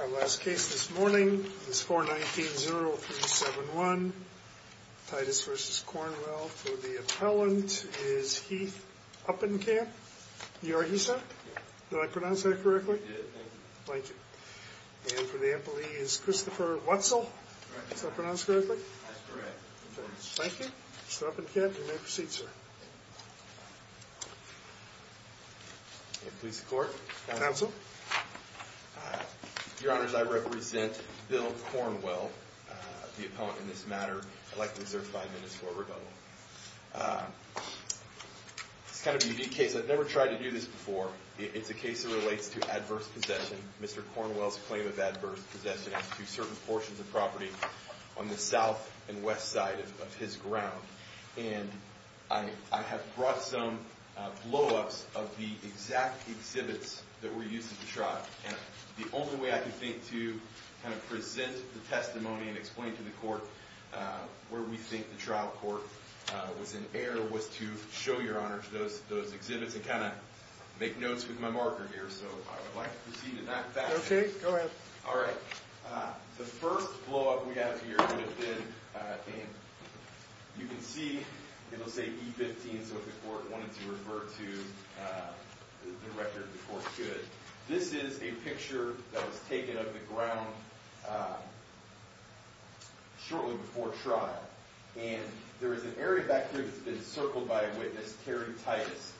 Our last case this morning is 419-0371, Titus v. Cornwell. For the appellant is Heath Uppenkamp. You are Heath, sir? Yes. Did I pronounce that correctly? You did, thank you. Thank you. And for the appellee is Christopher Wetzel. Is that pronounced correctly? That's correct. Thank you. Mr. Uppenkamp, you may proceed, sir. Police court. Counsel. Your honors, I represent Bill Cornwell, the appellant in this matter. I'd like to exert five minutes for rebuttal. It's kind of a unique case. I've never tried to do this before. It's a case that relates to adverse possession. Mr. Cornwell's claim of adverse possession as to certain portions of property on the south and west side of his ground. And I have brought some blowups of the exact exhibits that were used at the trial. And the only way I can think to kind of present the testimony and explain to the court where we think the trial court was in error was to show, your honors, those exhibits and kind of make notes with my marker here. So I would like to proceed in that fashion. Okay, go ahead. All right. The first blowup we have here would have been, you can see, it'll say E15. So if the court wanted to refer to the record, the court could. This is a picture that was taken of the ground shortly before trial. And there is an area back here that's been circled by a witness, Terry Titus.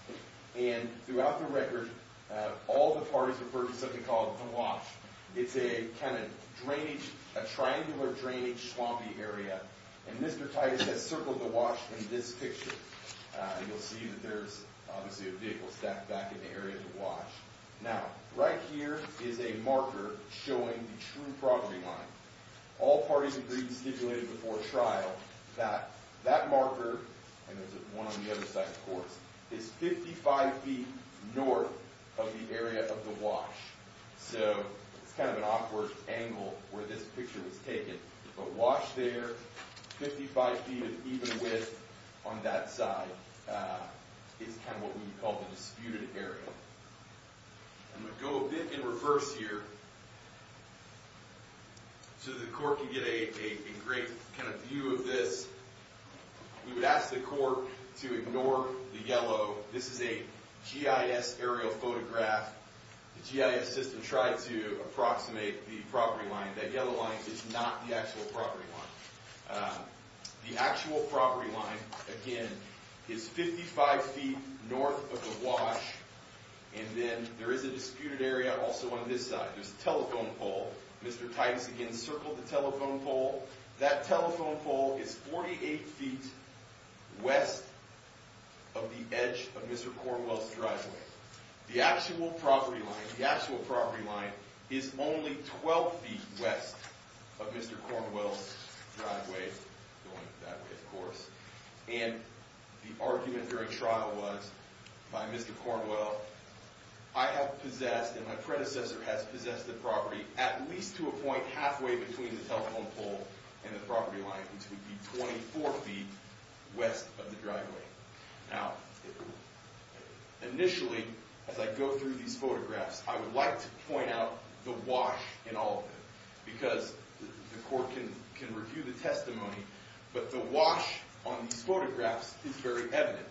And throughout the record, all the parties referred to something called the wash. It's a kind of drainage, a triangular drainage swampy area. And Mr. Titus has circled the wash in this picture. You'll see that there's obviously a vehicle stacked back in the area of the wash. Now, right here is a marker showing the true property line. All parties agreed and stipulated before trial that that marker, and there's one on the other side, of course, is 55 feet north of the area of the wash. So it's kind of an awkward angle where this picture was taken. But wash there, 55 feet of even width on that side is kind of what we would call the disputed area. I'm going to go a bit in reverse here. So the court can get a great kind of view of this. We would ask the court to ignore the yellow. This is a GIS aerial photograph. The GIS system tried to approximate the property line. That yellow line is not the actual property line. The actual property line, again, is 55 feet north of the wash. And then there is a disputed area also on this side. There's a telephone pole. Mr. Titus, again, circled the telephone pole. That telephone pole is 48 feet west of the edge of Mr. Cornwell's driveway. The actual property line is only 12 feet west of Mr. Cornwell's driveway going that way, of course. And the argument during trial was by Mr. Cornwell, I have possessed and my predecessor has possessed the property at least to a point halfway between the telephone pole and the property line, which would be 24 feet west of the driveway. Now, initially, as I go through these photographs, I would like to point out the wash in all of them because the court can review the testimony. But the wash on these photographs is very evident.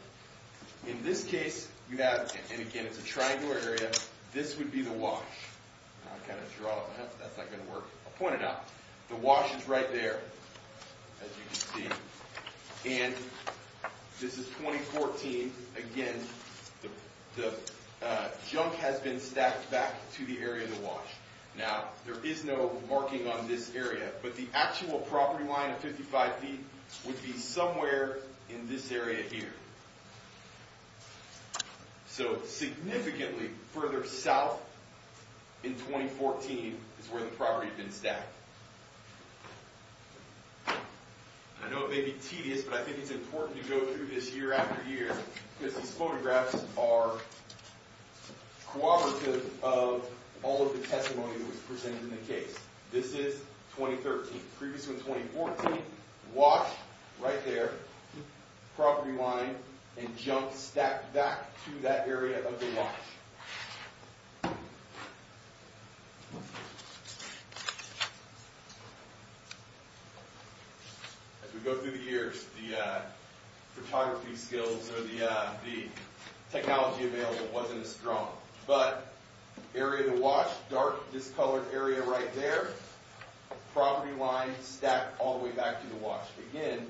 In this case, you have, and again, it's a triangular area. This would be the wash. I kind of draw it. That's not going to work. I'll point it out. The wash is right there, as you can see. And this is 2014. Again, the junk has been stacked back to the area of the wash. Now, there is no marking on this area. But the actual property line of 55 feet would be somewhere in this area here. So significantly further south in 2014 is where the property had been stacked. I know it may be tedious, but I think it's important to go through this year after year because these photographs are cooperative of all of the testimony that was presented in the case. This is 2013. Previous one, 2014. Wash right there. Property line and junk stacked back to that area of the wash. As we go through the years, the photography skills or the technology available wasn't as strong. But area of the wash, dark discolored area right there. Property line stacked all the way back to the wash. Again,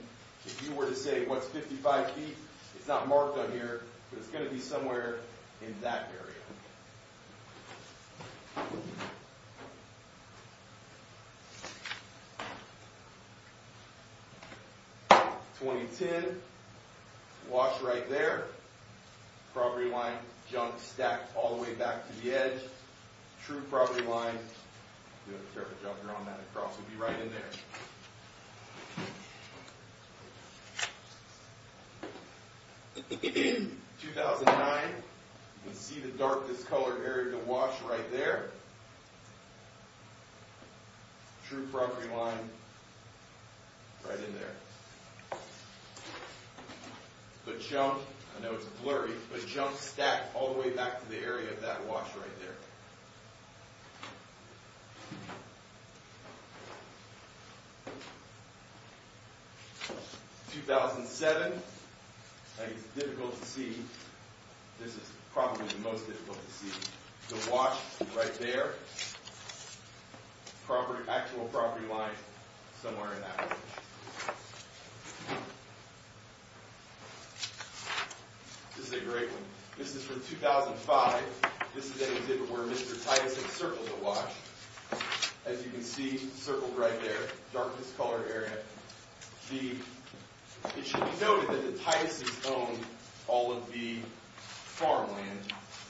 if you were to say, what's 55 feet? It's not marked on here, but it's going to be somewhere in that area. 2010. Wash right there. Property line, junk stacked all the way back to the edge. True property line. We have a photograph here on that across. It would be right in there. 2009. You can see the dark discolored area of the wash right there. True property line right in there. The junk, I know it's blurry, but junk stacked all the way back to the area of that wash right there. 2007. It's difficult to see. This is probably the most difficult to see. The wash right there. Actual property line somewhere in that area. This is a great one. This is from 2005. This is an exhibit where Mr. Titus had circled the wash. As you can see, circled right there. Dark discolored area. It should be noted that the Tituses owned all of the farmland,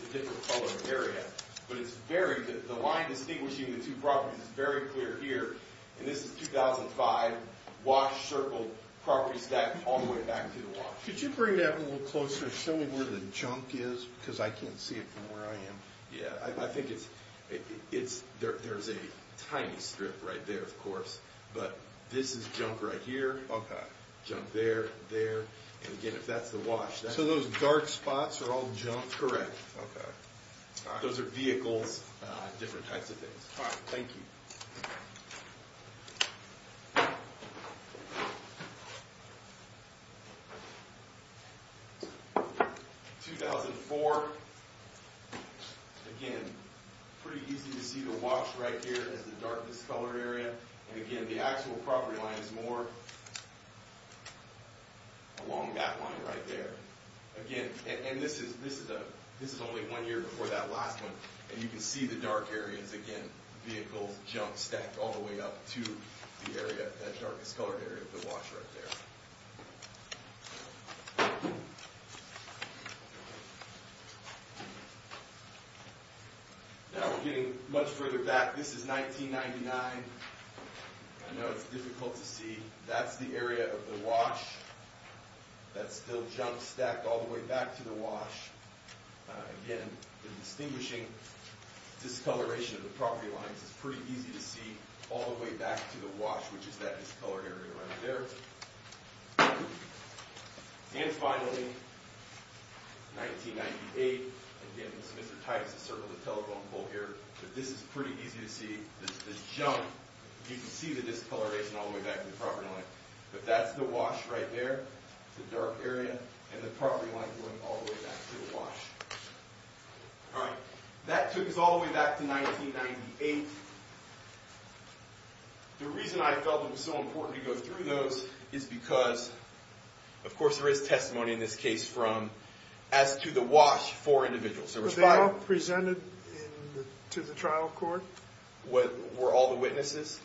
the different colored area. But the line distinguishing the two properties is very clear here. This is 2005. Wash circled, property stacked all the way back to the wash. Could you bring that a little closer? Show me where the junk is because I can't see it from where I am. I think there's a tiny strip right there, of course. But this is junk right here. Junk there and there. Again, if that's the wash. Those dark spots are all junk? Correct. Those are vehicles, different types of things. Thank you. 2004. Again, pretty easy to see the wash right here as the dark discolored area. Again, the actual property line is more along that line right there. This is only one year before that last one. You can see the dark areas again. Vehicles, junk stacked all the way up to that darkest colored area of the wash right there. Now we're getting much further back. This is 1999. I know it's difficult to see. That's the area of the wash. That's still junk stacked all the way back to the wash. Again, the distinguishing discoloration of the property lines is pretty easy to see all the way back to the wash, which is that discolored area right there. And finally, 1998. Again, this is Mr. Titus. He circled the telephone pole here. This is pretty easy to see. This junk, you can see the discoloration all the way back to the property line. But that's the wash right there, the dark area, and the property line going all the way back to the wash. All right. That took us all the way back to 1998. The reason I felt it was so important to go through those is because, of course, there is testimony in this case from, as to the wash, four individuals. Were they all presented to the trial court? Were all the witnesses?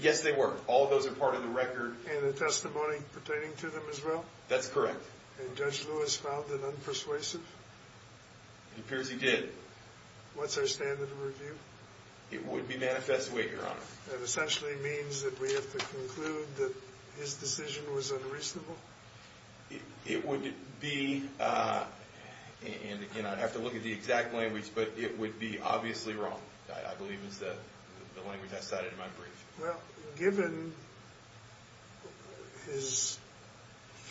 Yes, they were. All of those are part of the record. And the testimony pertaining to them as well? That's correct. And Judge Lewis found it unpersuasive? It appears he did. What's our standard of review? It would be manifest weight, Your Honor. That essentially means that we have to conclude that his decision was unreasonable? It would be, and again, I'd have to look at the exact language, but it would be obviously wrong, I believe is the language I cited in my brief. Well, given his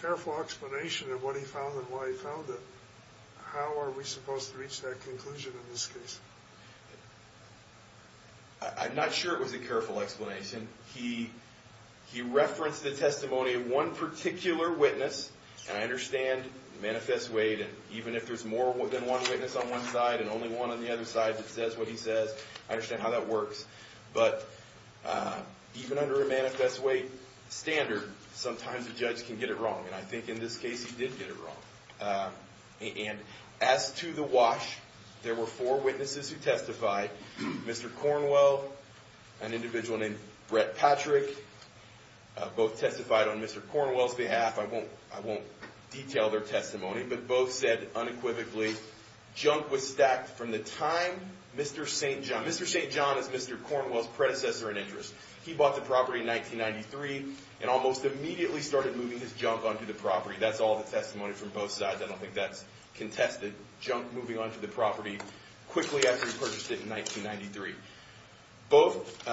careful explanation of what he found and why he found it, how are we supposed to reach that conclusion in this case? I'm not sure it was a careful explanation. He referenced the testimony of one particular witness, and I understand manifest weight, and even if there's more than one witness on one side and only one on the other side that says what he says, I understand how that works. But even under a manifest weight standard, sometimes a judge can get it wrong, and I think in this case he did get it wrong. And as to the wash, there were four witnesses who testified. Mr. Cornwell, an individual named Brett Patrick, both testified on Mr. Cornwell's behalf. I won't detail their testimony, but both said unequivocally, junk was stacked from the time Mr. St. John, Mr. St. John is Mr. Cornwell's predecessor in interest. He bought the property in 1993 and almost immediately started moving his junk onto the property. That's all the testimony from both sides. I don't think that's contested, junk moving onto the property quickly after he purchased it in 1993. Both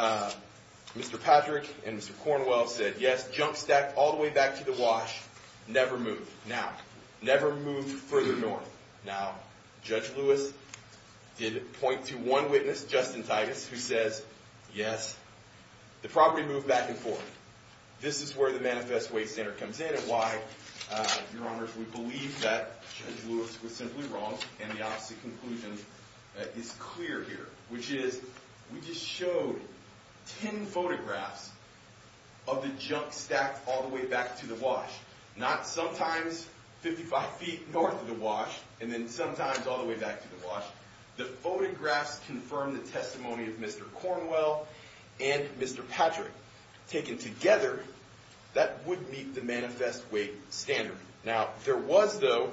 Mr. Patrick and Mr. Cornwell said, yes, junk stacked all the way back to the wash, never moved. Now, never moved further north. Now, Judge Lewis did point to one witness, Justin Titus, who says, yes, the property moved back and forth. This is where the manifest weight standard comes in and why, Your Honors, we believe that Judge Lewis was simply wrong and the opposite conclusion is clear here, which is we just showed ten photographs of the junk stacked all the way back to the wash, not sometimes 55 feet north of the wash and then sometimes all the way back to the wash. The photographs confirm the testimony of Mr. Cornwell and Mr. Patrick. Taken together, that would meet the manifest weight standard. Now, there was, though,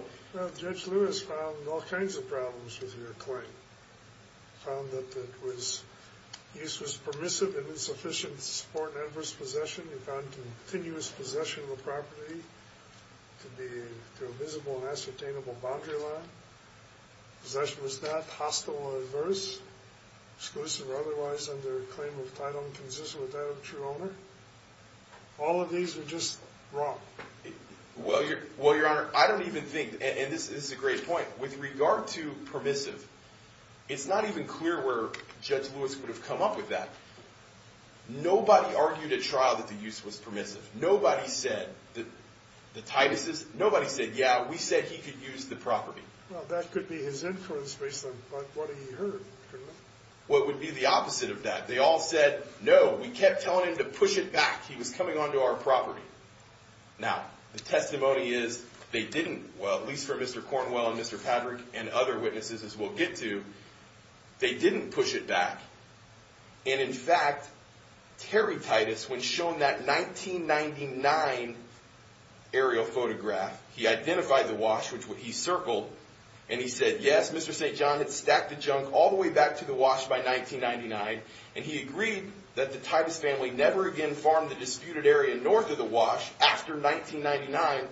Judge Lewis found all kinds of problems with your claim. He found that the use was permissive and insufficient to support an adverse possession. He found continuous possession of the property to be through a visible and ascertainable boundary line. Possession was not hostile or adverse, exclusive or otherwise under a claim of title inconsistent with that of the true owner. All of these are just wrong. Well, Your Honor, I don't even think, and this is a great point, with regard to permissive, it's not even clear where Judge Lewis would have come up with that. Nobody argued at trial that the use was permissive. Nobody said that the Titus's, nobody said, yeah, we said he could use the property. Well, that could be his influence based on what he heard. What would be the opposite of that? They all said, no, we kept telling him to push it back. He was coming onto our property. Now, the testimony is they didn't, well, at least for Mr. Cornwell and Mr. Patrick and other witnesses as we'll get to, they didn't push it back. And, in fact, Terry Titus, when shown that 1999 aerial photograph, he identified the wash, which he circled, and he said, yes, Mr. St. John had stacked the junk all the way back to the wash by 1999, and he agreed that the Titus family never again farmed the disputed area north of the wash after 1999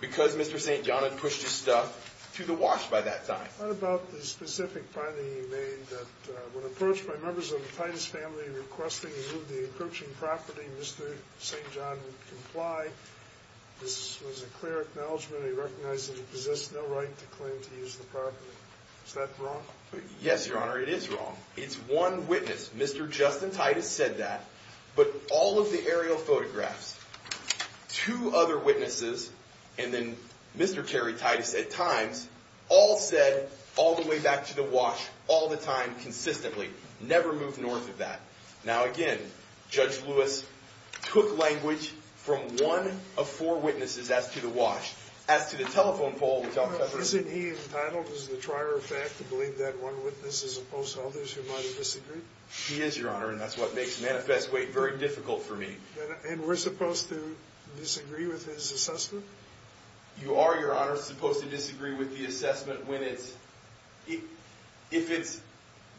because Mr. St. John had pushed his stuff to the wash by that time. What about the specific finding he made that when approached by members of the Titus family requesting to move the encroaching property, Mr. St. John would comply. This was a clear acknowledgment. He recognized that he possessed no right to claim to use the property. Is that wrong? Yes, Your Honor, it is wrong. It's one witness, Mr. Justin Titus, said that, but all of the aerial photographs, two other witnesses, and then Mr. Terry Titus at times, all said all the way back to the wash, all the time, consistently. Never moved north of that. Now, again, Judge Lewis took language from one of four witnesses as to the wash. As to the telephone pole, which I'll separate. Isn't he entitled as the trier of fact to believe that one witness is opposed to others who might have disagreed? He is, Your Honor, and that's what makes manifest weight very difficult for me. And we're supposed to disagree with his assessment? You are, Your Honor, supposed to disagree with the assessment when it's, if it's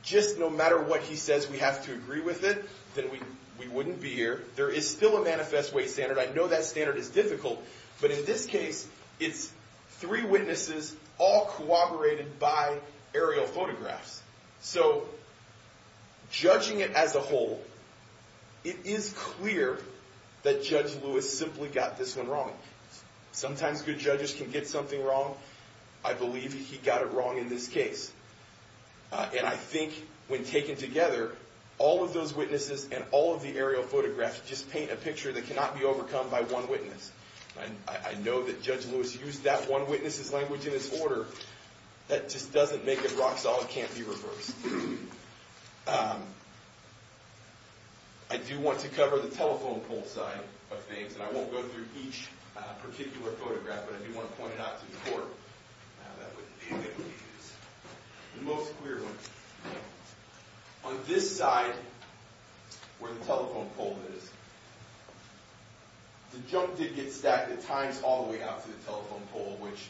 just no matter what he says, we have to agree with it, then we wouldn't be here. There is still a manifest weight standard. I know that standard is difficult, but in this case, it's three witnesses all corroborated by aerial photographs. So, judging it as a whole, it is clear that Judge Lewis simply got this one wrong. Sometimes good judges can get something wrong. I believe he got it wrong in this case. And I think when taken together, all of those witnesses and all of the aerial photographs just paint a picture that cannot be overcome by one witness. I know that Judge Lewis used that one witness's language in his order. That just doesn't make it rock solid, can't be reversed. I do want to cover the telephone pole side of things, and I won't go through each particular photograph, but I do want to point it out to the court. Now, that would be a good use. The most clear one. On this side, where the telephone pole is, the junk did get stacked at times all the way out to the telephone pole, which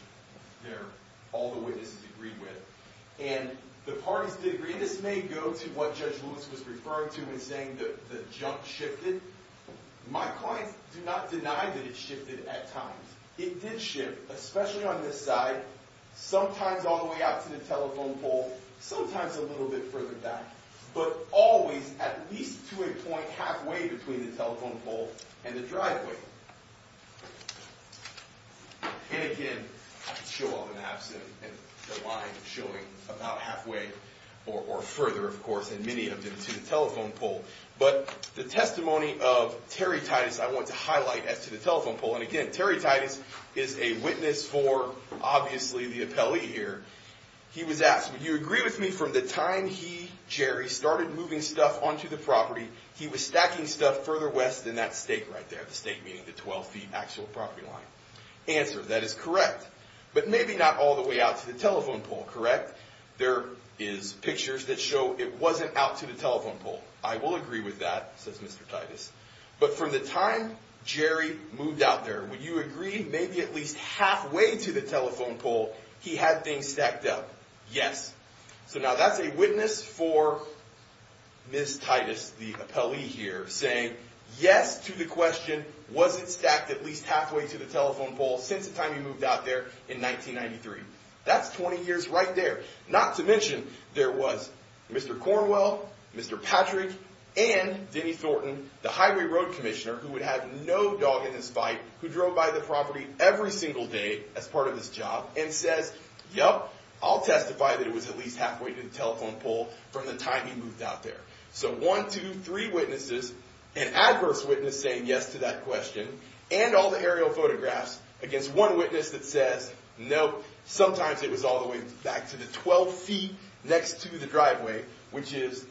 all the witnesses agreed with. And the parties did agree. This may go to what Judge Lewis was referring to in saying that the junk shifted. My clients do not deny that it shifted at times. It did shift, especially on this side, sometimes all the way out to the telephone pole, sometimes a little bit further back, but always at least to a point halfway between the telephone pole and the driveway. And again, I could show all the maps and the line showing about halfway or further, of course, and many of them to the telephone pole. But the testimony of Terry Titus I want to highlight as to the telephone pole. And again, Terry Titus is a witness for, obviously, the appellee here. He was asked, would you agree with me from the time he, Jerry, started moving stuff onto the property, he was stacking stuff further west than that stake right there, the stake being the 12-feet actual property line? Answer, that is correct. But maybe not all the way out to the telephone pole, correct? There is pictures that show it wasn't out to the telephone pole. I will agree with that, says Mr. Titus. But from the time Jerry moved out there, would you agree maybe at least halfway to the telephone pole he had things stacked up? Yes. So now that's a witness for Ms. Titus, the appellee here, saying yes to the question, was it stacked at least halfway to the telephone pole since the time he moved out there in 1993? That's 20 years right there. Not to mention there was Mr. Cornwell, Mr. Patrick, and Denny Thornton, the highway road commissioner who would have no dog in his fight, who drove by the property every single day as part of his job, and says, yep, I'll testify that it was at least halfway to the telephone pole from the time he moved out there. So one, two, three witnesses, an adverse witness saying yes to that question, and all the aerial photographs against one witness that says, nope, sometimes it was all the way back to the 12 feet next to the driveway, which is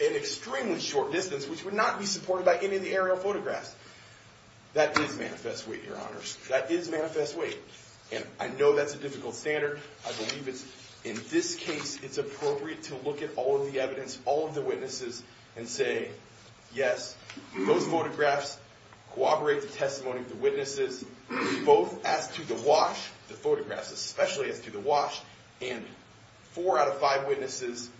an extremely short distance, which would not be supported by any of the aerial photographs. That is manifest weight, Your Honors. That is manifest weight. And I know that's a difficult standard. I believe it's, in this case, it's appropriate to look at all of the evidence, all of the witnesses, and say, yes, those photographs corroborate the testimony of the witnesses, both as to the wash, the photographs especially as to the wash, and four out of five witnesses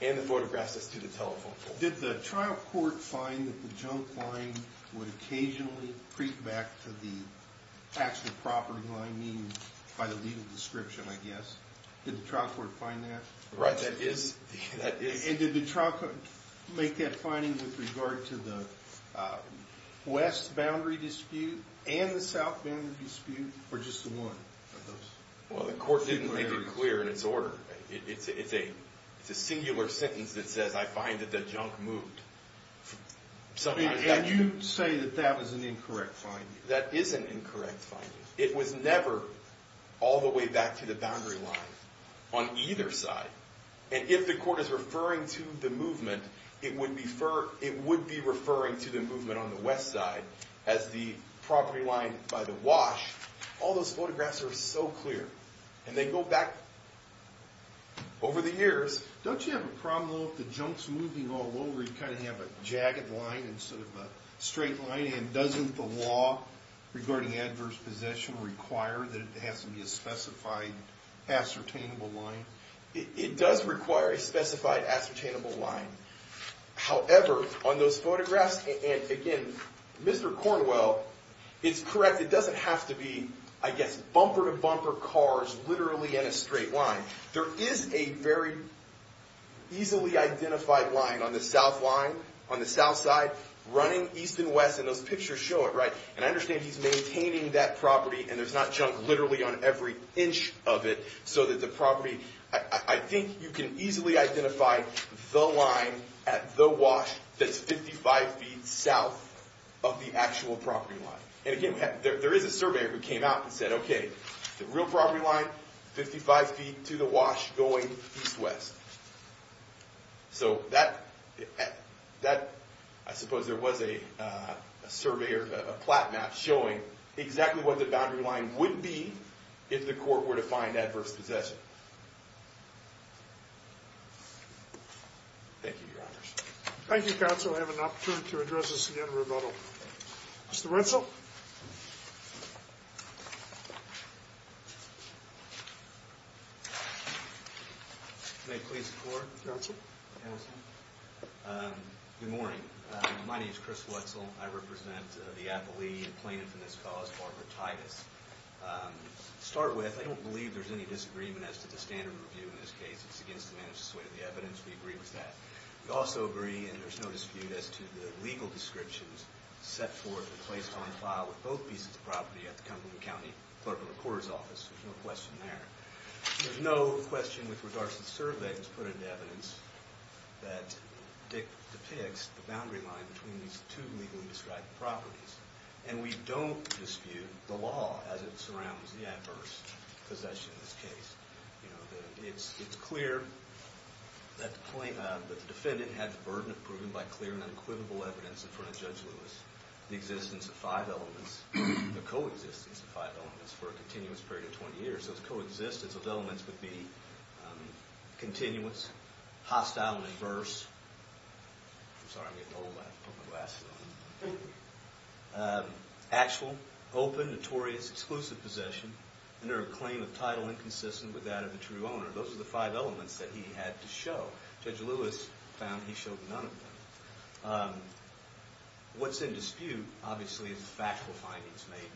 and the photographs as to the telephone pole. Did the trial court find that the junk line would occasionally creep back to the actual property line, by the legal description, I guess? Did the trial court find that? Right, that is. And did the trial court make that finding with regard to the west boundary dispute and the south boundary dispute, or just the one of those? Well, the court didn't make it clear in its order. It's a singular sentence that says, I find that the junk moved. And you say that that was an incorrect finding. That is an incorrect finding. It was never all the way back to the boundary line on either side. And if the court is referring to the movement, it would be referring to the movement on the west side as the property line by the wash. All those photographs are so clear. And they go back over the years. Don't you have a problem, though, if the junk's moving all over, you kind of have a jagged line instead of a straight line? And doesn't the law regarding adverse possession require that it has to be a specified ascertainable line? It does require a specified ascertainable line. However, on those photographs, and again, Mr. Cornwell is correct. It doesn't have to be, I guess, bumper-to-bumper cars literally in a straight line. There is a very easily identified line on the south side running east and west. And those pictures show it, right? And I understand he's maintaining that property and there's not junk literally on every inch of it so that the property – I think you can easily identify the line at the wash that's 55 feet south of the actual property line. And again, there is a surveyor who came out and said, okay, the real property line, 55 feet to the wash going east-west. So that – I suppose there was a surveyor, a plat map showing exactly what the boundary line would be if the court were to find adverse possession. Thank you, Your Honors. Thank you, counsel. I have an opportunity to address this again in rebuttal. Mr. Wetzel? Thank you, counsel. May it please the Court? Your Honor. Counsel. Good morning. My name is Chris Wetzel. I represent the appellee in plaintiff in this cause, Barbara Titus. To start with, I don't believe there's any disagreement as to the standard review in this case. It's against the manner of the evidence. We agree with that. We also agree, and there's no dispute, as to the legal descriptions set forth and placed on file with both pieces of property at the Cumberland County Clerk of the Court's office. There's no question there. There's no question with regards to the survey that was put into evidence that depicts the boundary line between these two legally described properties. And we don't dispute the law as it surrounds the adverse possession of this case. It's clear that the defendant had the burden of proving by clear and unquivocal evidence in front of Judge Lewis the existence of five elements, the coexistence of five elements for a continuous period of 20 years. So its coexistence of elements would be continuous, hostile, and adverse. I'm sorry, I'm getting old. I have to put my glasses on. Actual, open, notorious, exclusive possession under a claim of title inconsistent with that of the true owner. Those are the five elements that he had to show. Judge Lewis found he showed none of them. What's in dispute, obviously, is the factual findings made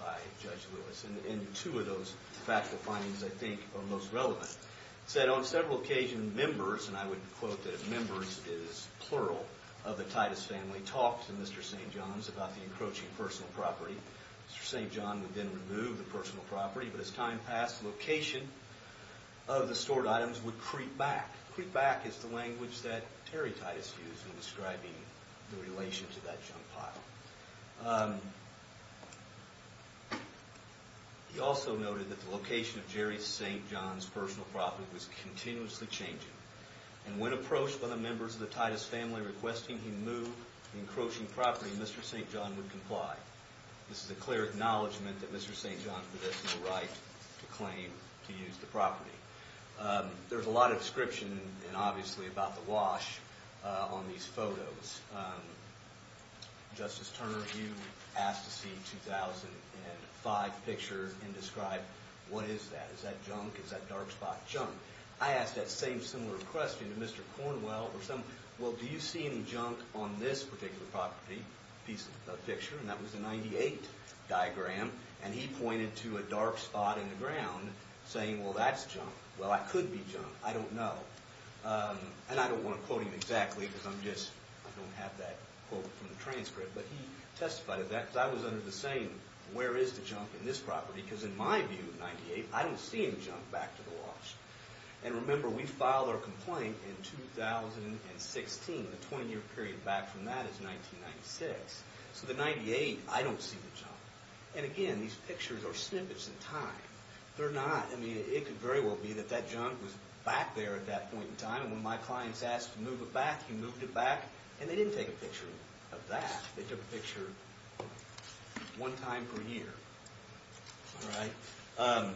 by Judge Lewis. And two of those factual findings, I think, are most relevant. He said, on several occasions, members, and I would quote that members is plural of the Titus family, talked to Mr. St. John's about the encroaching personal property. Mr. St. John would then remove the personal property, but as time passed, location of the stored items would creep back. Creep back is the language that Terry Titus used in describing the relation to that junk pile. He also noted that the location of Jerry St. John's personal property was continuously changing. And when approached by the members of the Titus family requesting he move the encroaching property, Mr. St. John would comply. This is a clear acknowledgement that Mr. St. John possessed no right to claim to use the property. There's a lot of description, obviously, about the wash on these photos. Justice Turner, you asked to see 2005 picture and describe what is that. Is that junk? Is that dark spot junk? I asked that same similar question to Mr. Cornwell. Well, do you see any junk on this particular property piece of picture? And that was a 98 diagram. And he pointed to a dark spot in the ground saying, well, that's junk. Well, I could be junk. I don't know. And I don't want to quote him exactly because I'm just, I don't have that quote from the transcript. But he testified to that because I was under the same, where is the junk in this property? Because in my view, 98, I don't see any junk back to the wash. And remember, we filed our complaint in 2016. The 20-year period back from that is 1996. So the 98, I don't see the junk. And again, these pictures are snippets in time. They're not, I mean, it could very well be that that junk was back there at that point in time. And when my clients asked to move it back, he moved it back. And they didn't take a picture of that. They took a picture one time per year. All right.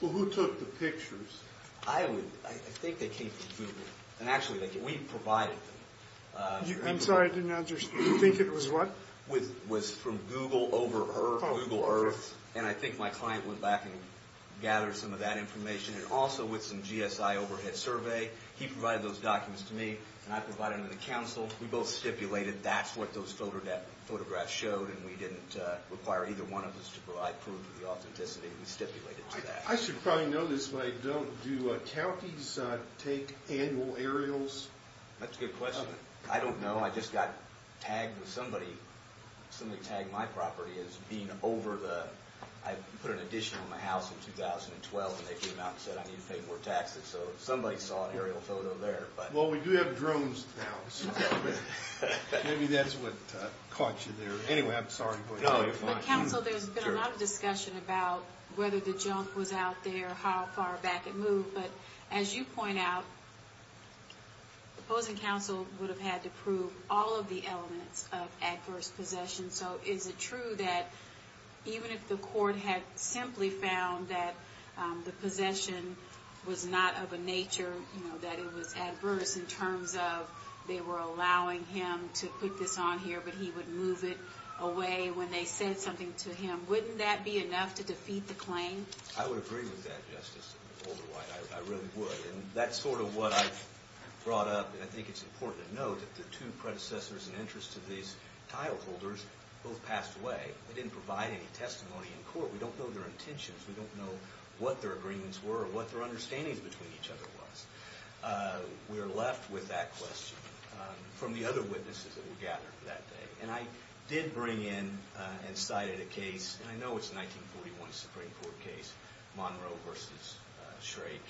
Well, who took the pictures? I think they came from Google. And actually, we provided them. I'm sorry, I didn't understand. You think it was what? It was from Google over Google Earth. And I think my client went back and gathered some of that information. And also with some GSI overhead survey, he provided those documents to me. And I provided them to the council. We both stipulated that's what those photographs showed. And we didn't require either one of us to provide proof of the authenticity. We stipulated to that. I should probably know this, but I don't. Do counties take annual aerials? That's a good question. I don't know. I just got tagged with somebody. Somebody tagged my property as being over the – I put an addition on my house in 2012. And they came out and said I need to pay more taxes. So somebody saw an aerial photo there. Well, we do have drones now. Maybe that's what caught you there. Anyway, I'm sorry. No, you're fine. But, council, there's been a lot of discussion about whether the junk was out there, how far back it moved. But as you point out, the opposing council would have had to prove all of the elements of adverse possession. So is it true that even if the court had simply found that the possession was not of a nature, you know, that it was adverse in terms of they were allowing him to put this on here but he would move it away when they said something to him, wouldn't that be enough to defeat the claim? I would agree with that, Justice Alderwhite. I really would. And that's sort of what I've brought up. And I think it's important to note that the two predecessors in interest to these tile holders both passed away. They didn't provide any testimony in court. We don't know their intentions. We don't know what their agreements were or what their understandings between each other was. We are left with that question from the other witnesses that were gathered that day. And I did bring in and cited a case, and I know it's a 1941 Supreme Court case, Monroe v. Shrake,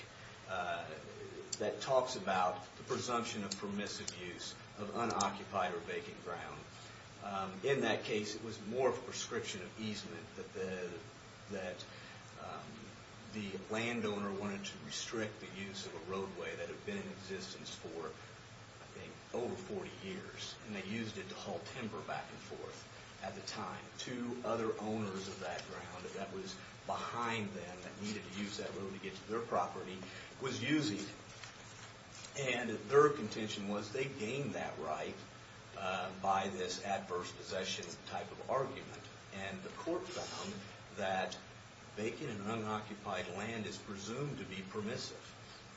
that talks about the presumption of permissive use of unoccupied or vacant ground. In that case, it was more of a prescription of easement, that the landowner wanted to restrict the use of a roadway that had been in existence for, I think, over 40 years. And they used it to haul timber back and forth at the time. Two other owners of that ground that was behind them that needed to use that road to get to their property was using it. And their contention was they gained that right by this adverse possession type of argument. And the court found that vacant and unoccupied land is presumed to be permissive.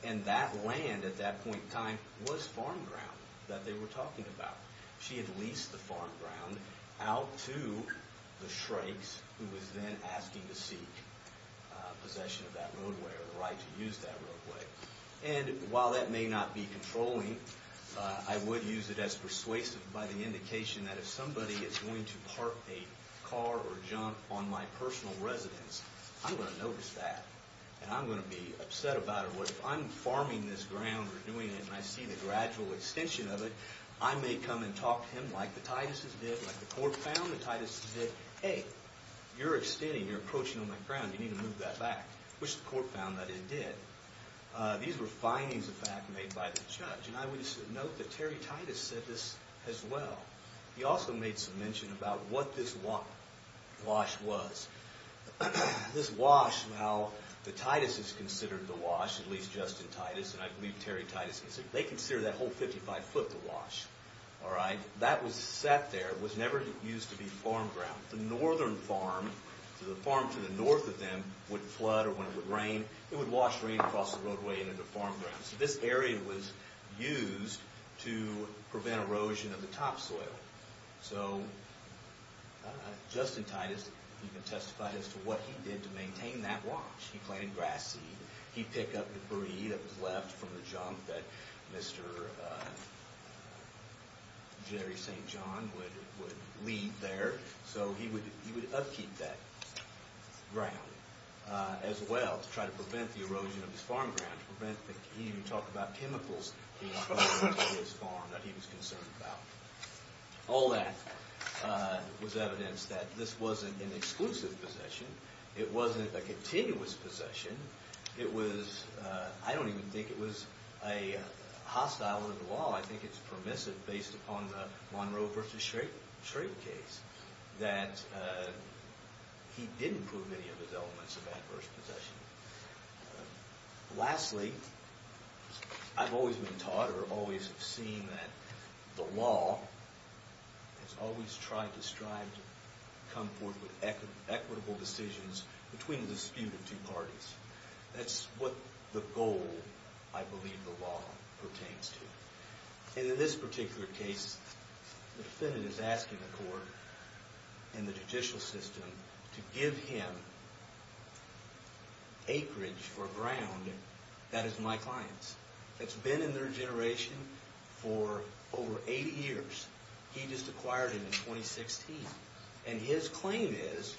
And that land at that point in time was farm ground that they were talking about. She had leased the farm ground out to the Shrakes, who was then asking to seek possession of that roadway or the right to use that roadway. And while that may not be controlling, I would use it as persuasive by the indication that if somebody is going to park a car or jump on my personal residence, I'm going to notice that. And I'm going to be upset about it. But if I'm farming this ground or doing it and I see the gradual extension of it, I may come and talk to him like the Tituses did, like the court found the Tituses did. Hey, you're extending, you're approaching on my ground, you need to move that back. Which the court found that it did. These were findings, in fact, made by the judge. And I would note that Terry Titus said this as well. He also made some mention about what this wash was. This wash, while the Tituses considered the wash, at least Justin Titus and I believe Terry Titus, they considered that whole 55 foot to wash. That was set there, it was never used to be farm ground. The northern farm, the farm to the north of them, would flood or when it would rain, it would wash rain across the roadway into the farm ground. So this area was used to prevent erosion of the topsoil. So Justin Titus, you can testify as to what he did to maintain that wash. He planted grass seed. He picked up the debris that was left from the junk that Mr. Jerry St. John would leave there. So he would upkeep that ground as well to try to prevent the erosion of his farm ground. To prevent that he would talk about chemicals in his farm that he was concerned about. All that was evidence that this wasn't an exclusive possession. It wasn't a continuous possession. It was, I don't even think it was a hostile to the law. I think it's permissive based upon the Monroe v. Schrader case. That he didn't prove any of his elements of adverse possession. Lastly, I've always been taught or always seen that the law has always tried to strive to come forth with equitable decisions between the dispute of two parties. That's what the goal, I believe, the law pertains to. And in this particular case, the defendant is asking the court and the judicial system to give him acreage for ground that is my client's. It's been in their generation for over 80 years. He just acquired it in 2016. And his claim is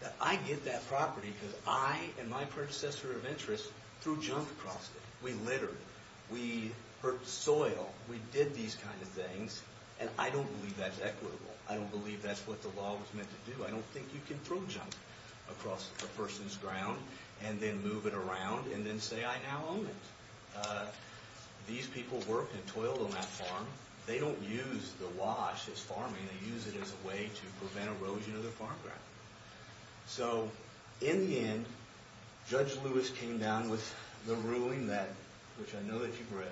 that I get that property because I and my predecessor of interest threw junk across it. We littered. We hurt the soil. We did these kind of things and I don't believe that's equitable. I don't believe that's what the law was meant to do. I don't think you can throw junk across a person's ground and then move it around and then say I now own it. These people worked and toiled on that farm. They don't use the wash as farming. They use it as a way to prevent erosion of the farm ground. So in the end, Judge Lewis came down with the ruling that, which I know that you've read,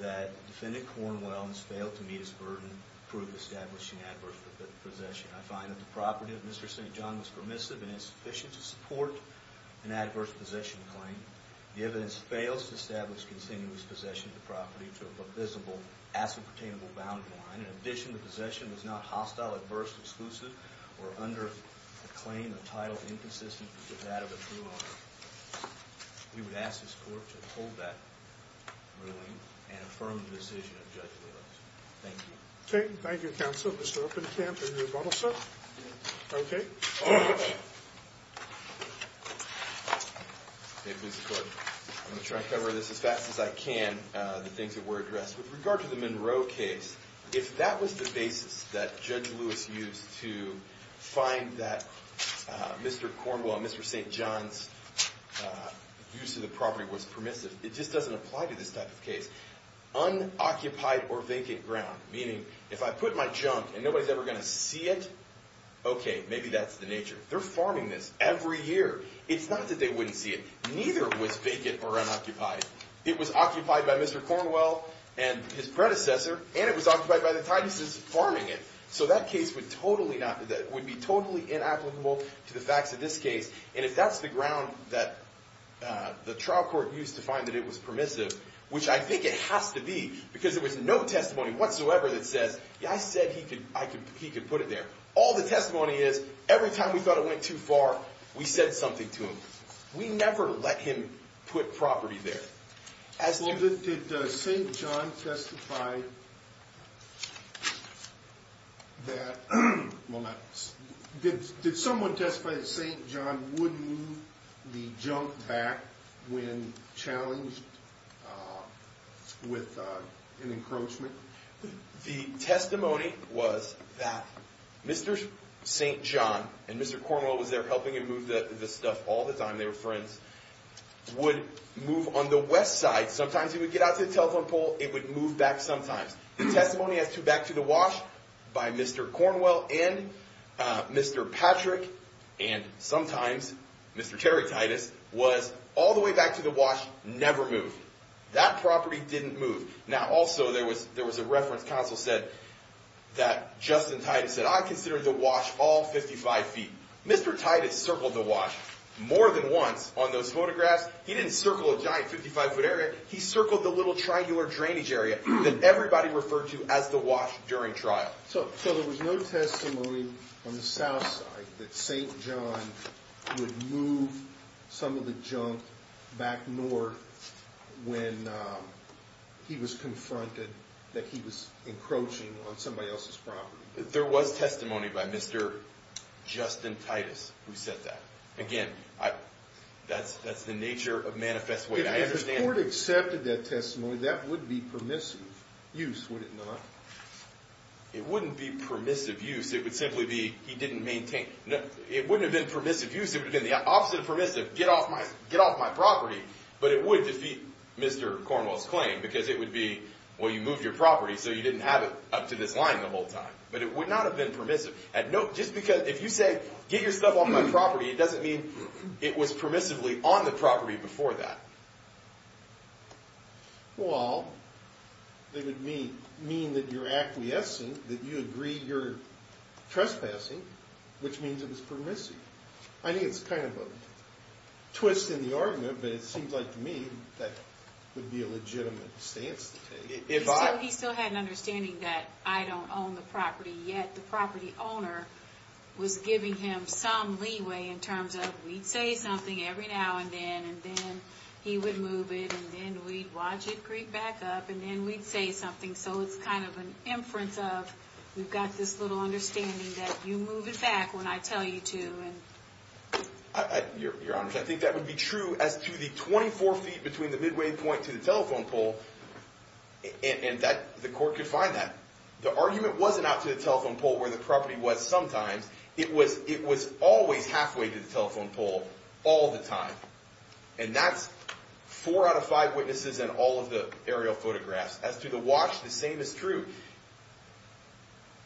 that defendant Cornwell has failed to meet his burden, prove establishing adverse possession. I find that the property of Mr. St. John was permissive and insufficient to support an adverse possession claim. The evidence fails to establish continuous possession of the property to a visible asset-obtainable boundary line. In addition, the possession was not hostile, adverse, exclusive, or under the claim of title inconsistent with that of a true owner. We would ask this court to uphold that ruling and affirm the decision of Judge Lewis. Thank you. Okay, thank you, counsel. Mr. Upenkamp, are you about all set? Yes. Okay. I'm going to try to cover this as fast as I can, the things that were addressed. With regard to the Monroe case, if that was the basis that Judge Lewis used to find that Mr. Cornwell, Mr. St. John's use of the property was permissive, it just doesn't apply to this type of case. Unoccupied or vacant ground, meaning if I put my junk and nobody's ever going to see it, okay, maybe that's the nature. They're farming this every year. It's not that they wouldn't see it. Neither was vacant or unoccupied. It was occupied by Mr. Cornwell and his predecessor, and it was occupied by the Titus' farming it. So that case would be totally inapplicable to the facts of this case. And if that's the ground that the trial court used to find that it was permissive, which I think it has to be, because there was no testimony whatsoever that says, yeah, I said he could put it there. All the testimony is every time we thought it went too far, we said something to him. We never let him put property there. Did St. John testify that St. John would move the junk back when challenged with an encroachment? The testimony was that Mr. St. John and Mr. Cornwell was there helping him move the stuff all the time. They were friends. Would move on the west side. Sometimes he would get out to the telephone pole. It would move back sometimes. The testimony as to back to the wash by Mr. Cornwell and Mr. Patrick, and sometimes Mr. Terry Titus, was all the way back to the wash, never moved. That property didn't move. Now, also, there was a reference counsel said that Justin Titus said, I considered the wash all 55 feet. Mr. Titus circled the wash more than once on those photographs. He didn't circle a giant 55-foot area. He circled the little triangular drainage area that everybody referred to as the wash during trial. So there was no testimony on the south side that St. John would move some of the junk back north when he was confronted that he was encroaching on somebody else's property. There was testimony by Mr. Justin Titus who said that. Again, that's the nature of manifest way. If the court accepted that testimony, that would be permissive use, would it not? It wouldn't be permissive use. It would simply be he didn't maintain. It wouldn't have been permissive use. It would have been the opposite of permissive, get off my property. But it would defeat Mr. Cornwell's claim because it would be, well, you moved your property, so you didn't have it up to this line the whole time. But it would not have been permissive. Just because if you say get your stuff off my property, it doesn't mean it was permissively on the property before that. Well, it would mean that you're acquiescing, that you agree you're trespassing, which means it was permissive. I think it's kind of a twist in the argument, but it seems like to me that would be a legitimate stance to take. He still had an understanding that I don't own the property, yet the property owner was giving him some leeway in terms of we'd say something every now and then, and then he would move it, and then we'd watch it creep back up, and then we'd say something. So it's kind of an inference of we've got this little understanding that you move it back when I tell you to. Your Honor, I think that would be true as to the 24 feet between the midway point to the telephone pole, and the court could find that. The argument wasn't out to the telephone pole where the property was sometimes. It was always halfway to the telephone pole all the time, and that's four out of five witnesses in all of the aerial photographs. As to the watch, the same is true.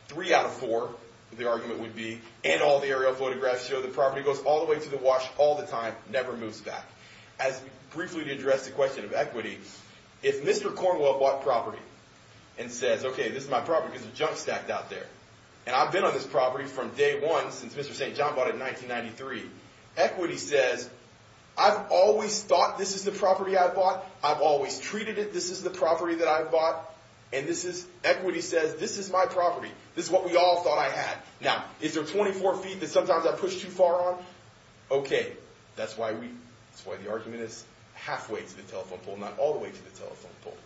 Three out of four, the argument would be, and all the aerial photographs show the property goes all the way to the watch all the time, never moves back. As briefly to address the question of equity, if Mr. Cornwell bought property and says, okay, this is my property because it's jump stacked out there, and I've been on this property from day one since Mr. St. John bought it in 1993. Equity says, I've always thought this is the property I've bought. I've always treated it. This is the property that I've bought, and this is, equity says, this is my property. This is what we all thought I had. Now, is there 24 feet that sometimes I push too far on? Okay, that's why we, that's why the argument is halfway to the telephone pole, not all the way to the telephone pole.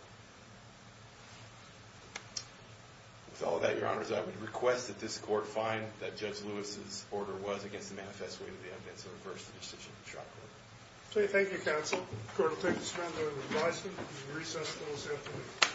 With all of that, your honors, I would request that this court find that Judge Lewis's order was against the manifest way to the evidence of the first institution of the trial court. Thank you, counsel. The court will take a stand on the advisement. We recess until this afternoon.